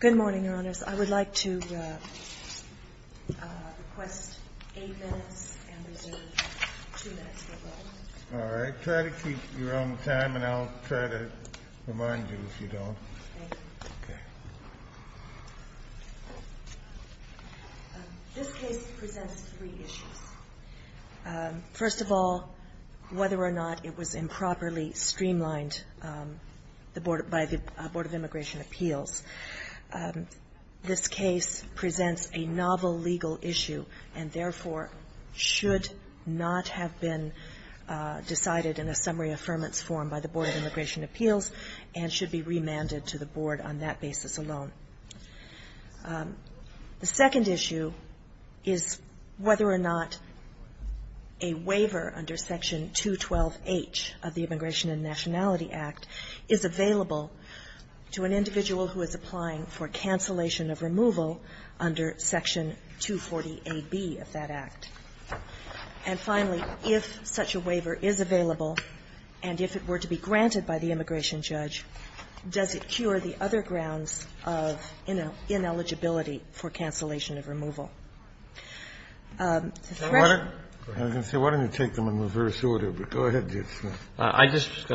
Good morning, Your Honors. I would like to request eight minutes and reserve two minutes All right. Try to keep your own time and I'll try to remind you if you don't. Okay. This case presents three issues. First of all, whether or not it was improperly streamlined by the Board of Immigration Appeals, this case presents a novel legal issue and therefore should not have been decided in a summary affirmance form by the Board of Immigration Appeals and should be remanded to the Board on that basis alone. The second issue is whether or not a waiver under Section 212H of the Immigration and Nationality Act is available to an individual who is applying for cancellation of removal under Section 240AB of that act. And finally, if such a waiver is available, and if it were to be granted by the immigration judge, does it cure the other grounds of ineligibility for cancellation of removal? The first one is whether or not it was improperly streamlined by the Board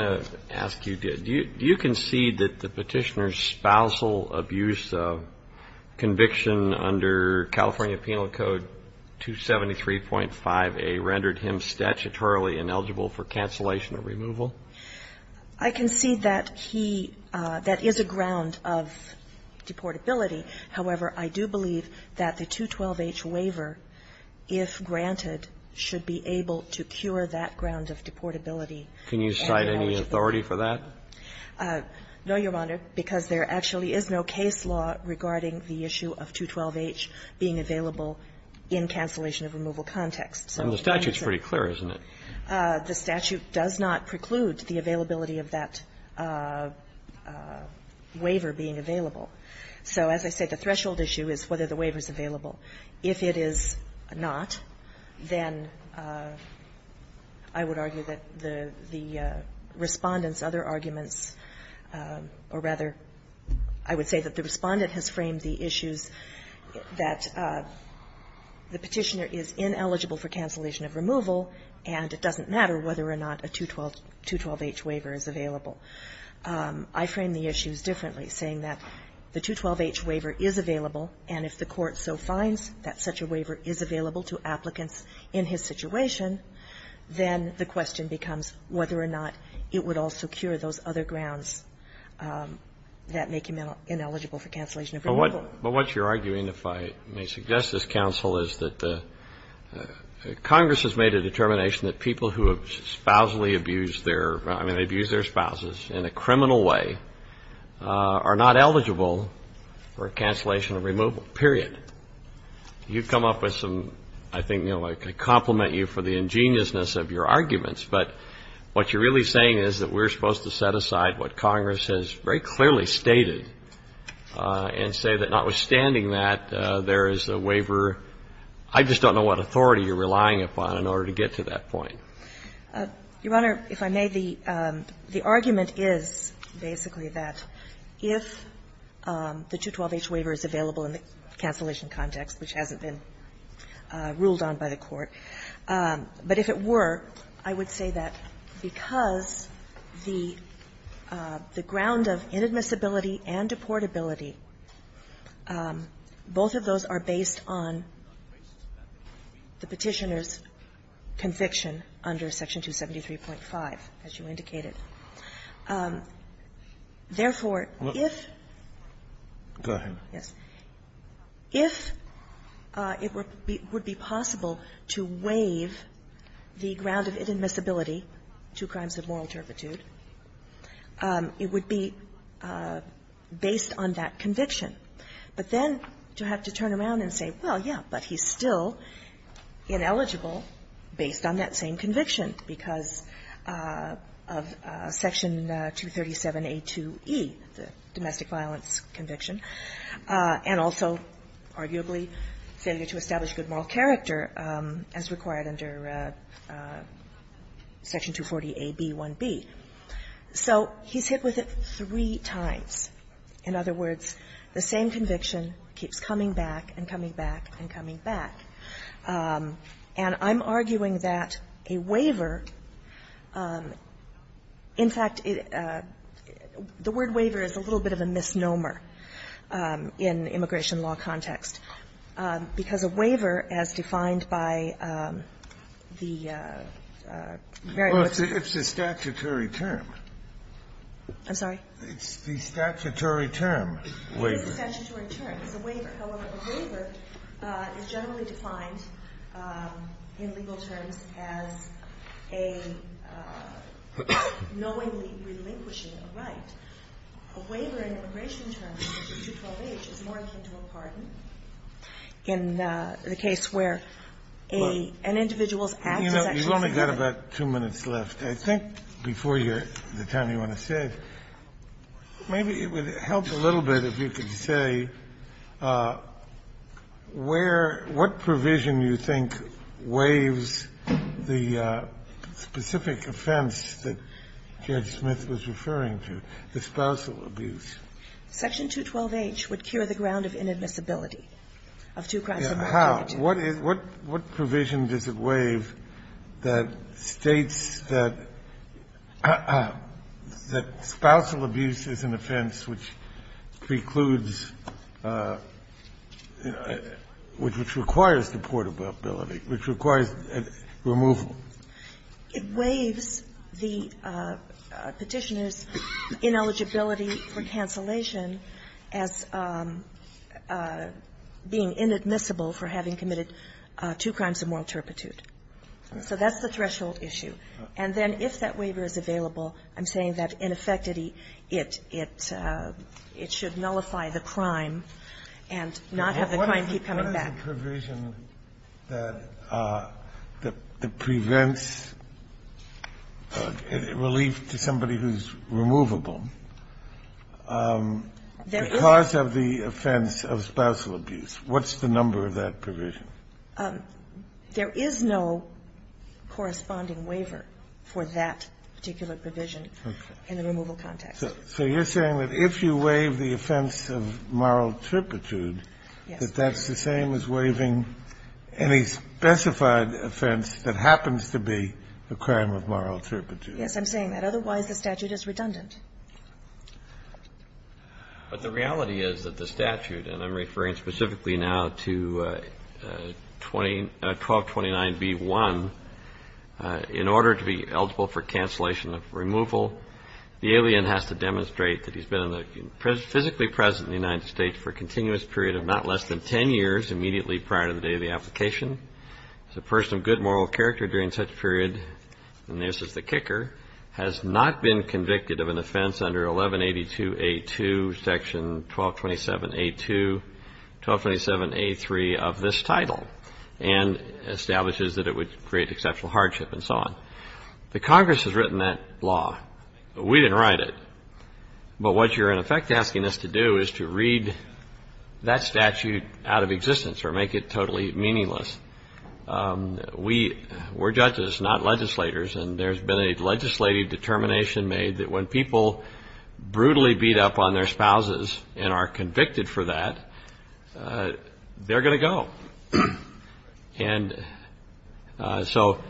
of Immigration Do you concede that the petitioner's spousal abuse conviction under California Penal Code 273.5A rendered him statutorily ineligible for cancellation of removal? I concede that he, that is a ground of deportability. However, I do believe that the 212H waiver, if granted, should be able to cure that ground of deportability. Can you cite any authority for that? No, Your Honor, because there actually is no case law regarding the issue of 212H being available in cancellation of removal context. And the statute is pretty clear, isn't it? The statute does not preclude the availability of that waiver being available. So as I said, the threshold issue is whether the waiver is available. If it is not, then I would argue that the Respondent's other arguments, or rather, I would say that the Respondent has framed the issues that the petitioner is ineligible for cancellation of removal, and it doesn't matter whether or not a 212H waiver is available. I frame the issues differently, saying that the 212H waiver is available, and if the Respondent finds that such a waiver is available to applicants in his situation, then the question becomes whether or not it would also cure those other grounds that make him ineligible for cancellation of removal. But what you're arguing, if I may suggest this, counsel, is that Congress has made a determination that people who have spousally abused their – I mean, abused their spouses in a criminal way are not eligible for cancellation of removal, period. You've come up with some – I think, you know, I could compliment you for the ingeniousness of your arguments, but what you're really saying is that we're supposed to set aside what Congress has very clearly stated and say that notwithstanding that, there is a waiver. I just don't know what authority you're relying upon in order to get to that point. Your Honor, if I may, the argument is basically that if the 212H waiver is available in the cancellation context, which hasn't been ruled on by the Court, but if it were, I would say that because the ground of inadmissibility and deportability, both of those are based on the Petitioner's conviction under Section 273.5, as you indicated. Therefore, if – Go ahead. Yes. If it would be possible to waive the ground of inadmissibility to crimes of moral conviction, but then to have to turn around and say, well, yeah, but he's still ineligible based on that same conviction because of Section 237a2e, the domestic violence conviction, and also arguably failure to establish good moral character as required under Section 240a)(b)(1)(B). So he's hit with it three times. In other words, the same conviction keeps coming back and coming back and coming back, and I'm arguing that a waiver, in fact, the word waiver is a little bit of a misnomer in immigration law context, because a waiver, as defined by the very most of the cases. Well, it's a statutory term. I'm sorry? It's the statutory term. It is a statutory term. It's a waiver. However, a waiver is generally defined in legal terms as a knowingly relinquishing a right. A waiver in immigration terms under 212H is more akin to a pardon. In the case where an individual's act is actually submitted. You know, you've only got about two minutes left. I think before the time you want to say, maybe it would help a little bit if you could say where what provision you think waives the specific offense that Judge Smith was referring to, the spousal abuse. Section 212H would cure the ground of inadmissibility of two crimes. How? What provision does it waive that states that spousal abuse is an offense which precludes, which requires deportability, which requires removal? It waives the Petitioner's ineligibility for cancellation as being inadmissible for having committed two crimes of moral turpitude. So that's the threshold issue. And then if that waiver is available, I'm saying that, in effect, it should nullify the crime and not have the crime keep coming back. Kennedy, what about the provision that prevents relief to somebody who's removable? Because of the offense of spousal abuse, what's the number of that provision? There is no corresponding waiver for that particular provision in the removal context. So you're saying that if you waive the offense of moral turpitude, that that's the same as waiving any specified offense that happens to be a crime of moral turpitude? Yes, I'm saying that. Otherwise, the statute is redundant. But the reality is that the statute, and I'm referring specifically now to 1229b-1, in order to be eligible for cancellation of removal, the alien has to demonstrate that he's been physically present in the United States for a continuous period of not less than 10 years immediately prior to the date of the application. As a person of good moral character during such a period, and this is the kicker, has not been convicted of an offense under 1182a-2, section 1227a-2, 1227a-3 of this title, and establishes that it would create exceptional hardship and so on. The Congress has written that law. We didn't write it. But what you're, in effect, asking us to do is to read that statute out of existence or make it totally meaningless. We're judges, not legislators, and there's been a legislative determination made that when people brutally beat up on their spouses and are convicted for that, they're going to go. And so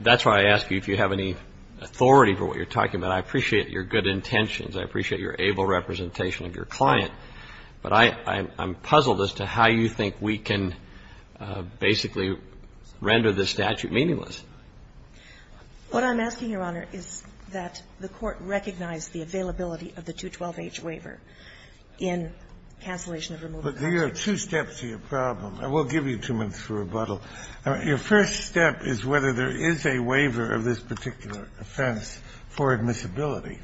that's why I ask you if you have any authority for what you're talking about. I appreciate your good intentions. I appreciate your able representation of your client. But I'm puzzled as to how you think we can basically render this statute meaningless. What I'm asking, Your Honor, is that the Court recognize the availability of the 212h waiver in cancellation of removal. But there are two steps to your problem. I won't give you two minutes for rebuttal. Your first step is whether there is a waiver of this particular offense for admissibility.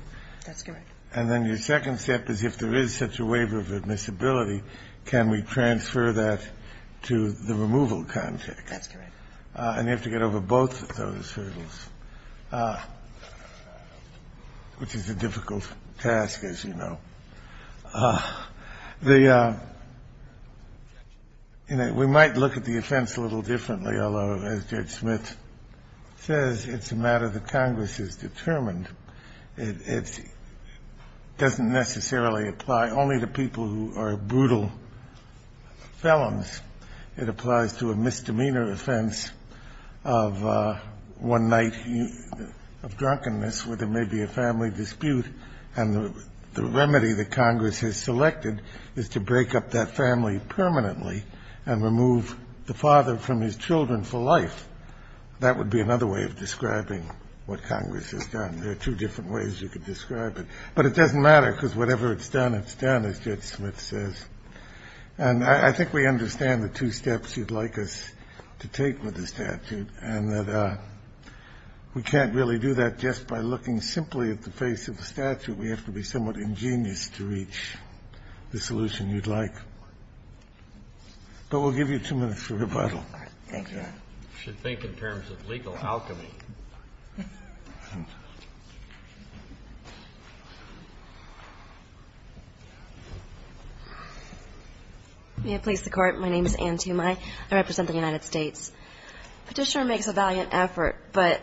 That's correct. And then your second step is if there is such a waiver of admissibility, can we transfer that to the removal context. That's correct. And you have to get over both of those hurdles, which is a difficult task, as you know. The – we might look at the offense a little differently, although, as Judge Smith says, it's a matter that Congress has determined. It doesn't necessarily apply only to people who are brutal felons. It applies to a misdemeanor offense of one night of drunkenness where there may be a remedy that Congress has selected is to break up that family permanently and remove the father from his children for life. That would be another way of describing what Congress has done. There are two different ways you could describe it. But it doesn't matter, because whatever it's done, it's done, as Judge Smith says. And I think we understand the two steps you'd like us to take with the statute and that we can't really do that just by looking simply at the face of the statute. We have to be somewhat ingenious to reach the solution you'd like. But we'll give you two minutes for rebuttal. Okay. You should think in terms of legal alchemy. May it please the Court. My name is Anne Tumai. I represent the United States. Petitioner makes a valiant effort, but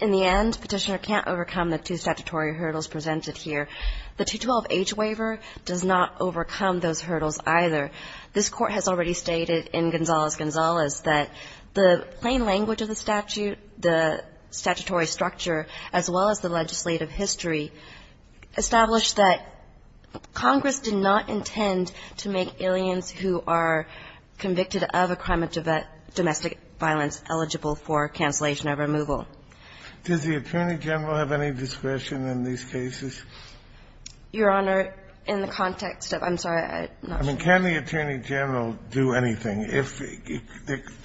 in the end, Petitioner can't overcome the two statutory hurdles presented here. The 212H waiver does not overcome those hurdles either. This Court has already stated in Gonzalez-Gonzalez that the plain language of the statute, the statutory structure, as well as the legislative history, establish that Congress did not intend to make aliens who are convicted of a crime of domestic violence eligible for cancellation or removal. Does the Attorney General have any discretion in these cases? Your Honor, in the context of the ---- I mean, can the Attorney General do anything?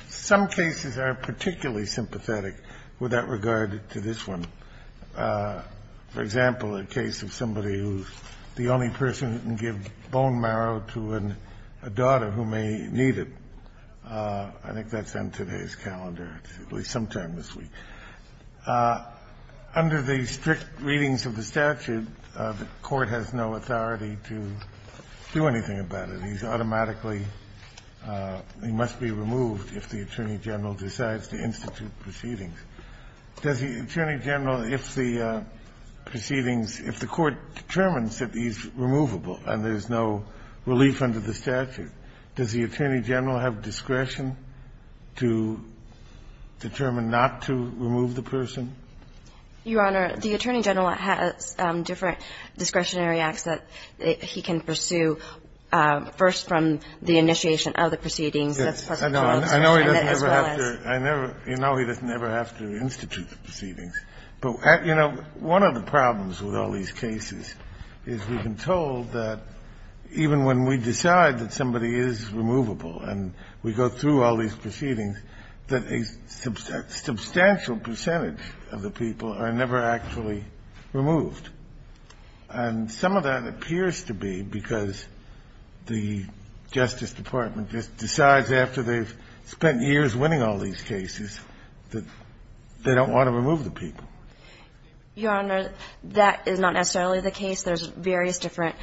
Some cases are particularly sympathetic with that regard to this one. For example, a case of somebody who's the only person who can give bone marrow to a daughter who may need it. I think that's on today's calendar, at least sometime this week. Under the strict readings of the statute, the Court has no authority to do anything about it. He's automatically ---- he must be removed if the Attorney General decides to institute proceedings. Does the Attorney General, if the proceedings ---- if the Court determines that he's removable and there's no relief under the statute, does the Attorney General have discretion to determine not to remove the person? Your Honor, the Attorney General has different discretionary acts that he can pursue first from the initiation of the proceedings. That's present clause as well as ---- I know he doesn't ever have to institute the proceedings. But, you know, one of the problems with all these cases is we've been told that even when we decide that somebody is removable and we go through all these proceedings, that a substantial percentage of the people are never actually removed. And some of that appears to be because the Justice Department just decides after they've spent years winning all these cases that they don't want to remove the people. Your Honor, that is not necessarily the case. There's various different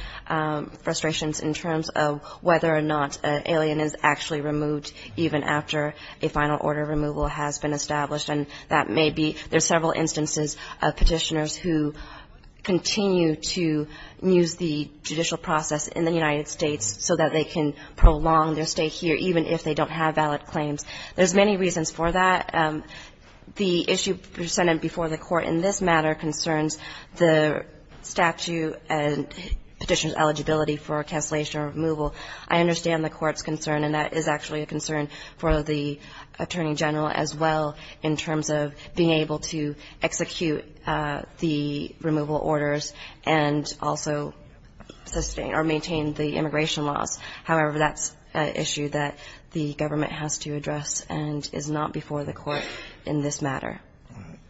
frustrations in terms of whether or not an alien is actually removed even after a final order of removal has been established. And that may be ---- there's several instances of Petitioners who continue to use the judicial process in the United States so that they can prolong their stay here even if they don't have valid claims. There's many reasons for that. The issue presented before the Court in this matter concerns the statute and Petitioner's eligibility for cancellation or removal. I understand the Court's concern, and that is actually a concern for the Attorney General as well in terms of being able to execute the removal orders and also sustain or maintain the immigration laws. However, that's an issue that the government has to address and is not before the Court in this matter.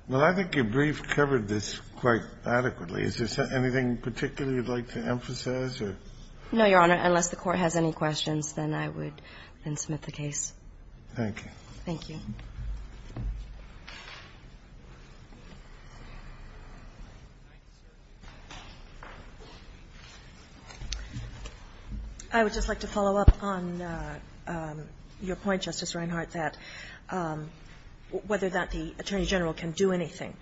Well, I think your brief covered this quite adequately. Is there anything in particular you'd like to emphasize? No, Your Honor. Unless the Court has any questions, then I would then submit the case. Thank you. Thank you. I would just like to follow up on your point, Justice Reinhart, that whether or not the Attorney General can do anything.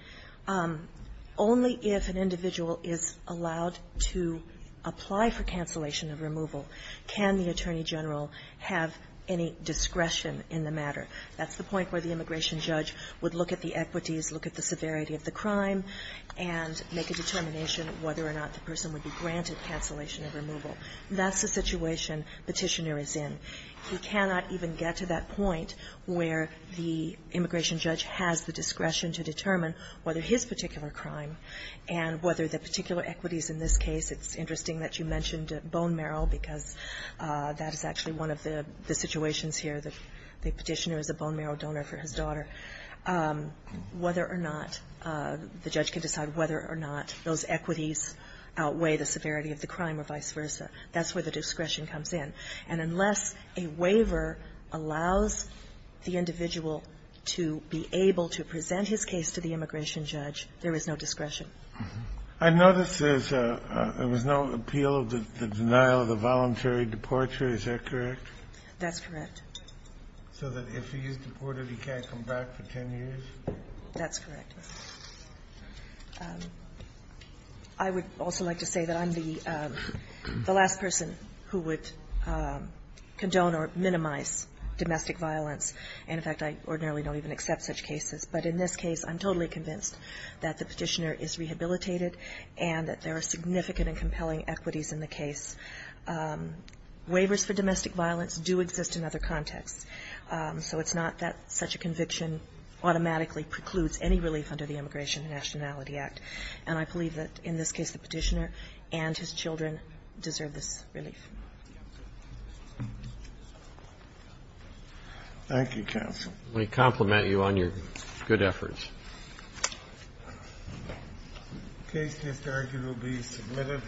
Only if an individual is allowed to apply for cancellation of removal can the Attorney That's the point where the immigration judge would look at the equities, look at the severity of the crime, and make a determination whether or not the person would be granted cancellation of removal. That's the situation Petitioner is in. He cannot even get to that point where the immigration judge has the discretion to determine whether his particular crime and whether the particular equities in this case. It's interesting that you mentioned bone marrow because that is actually one of the situations here. The Petitioner is a bone marrow donor for his daughter. Whether or not the judge can decide whether or not those equities outweigh the severity of the crime or vice versa, that's where the discretion comes in. And unless a waiver allows the individual to be able to present his case to the immigration judge, there is no discretion. I noticed there was no appeal of the denial of the voluntary departure. Is that correct? That's correct. So that if he is deported, he can't come back for 10 years? That's correct. I would also like to say that I'm the last person who would condone or minimize domestic violence, and, in fact, I ordinarily don't even accept such cases. But in this case, I'm totally convinced that the Petitioner is rehabilitated and that there are significant and compelling equities in the case. Waivers for domestic violence do exist in other contexts. So it's not that such a conviction automatically precludes any relief under the Immigration and Nationality Act. And I believe that, in this case, the Petitioner and his children deserve this relief. Thank you, counsel. Let me compliment you on your good efforts. The case, Mr. Argyle, will be submitted.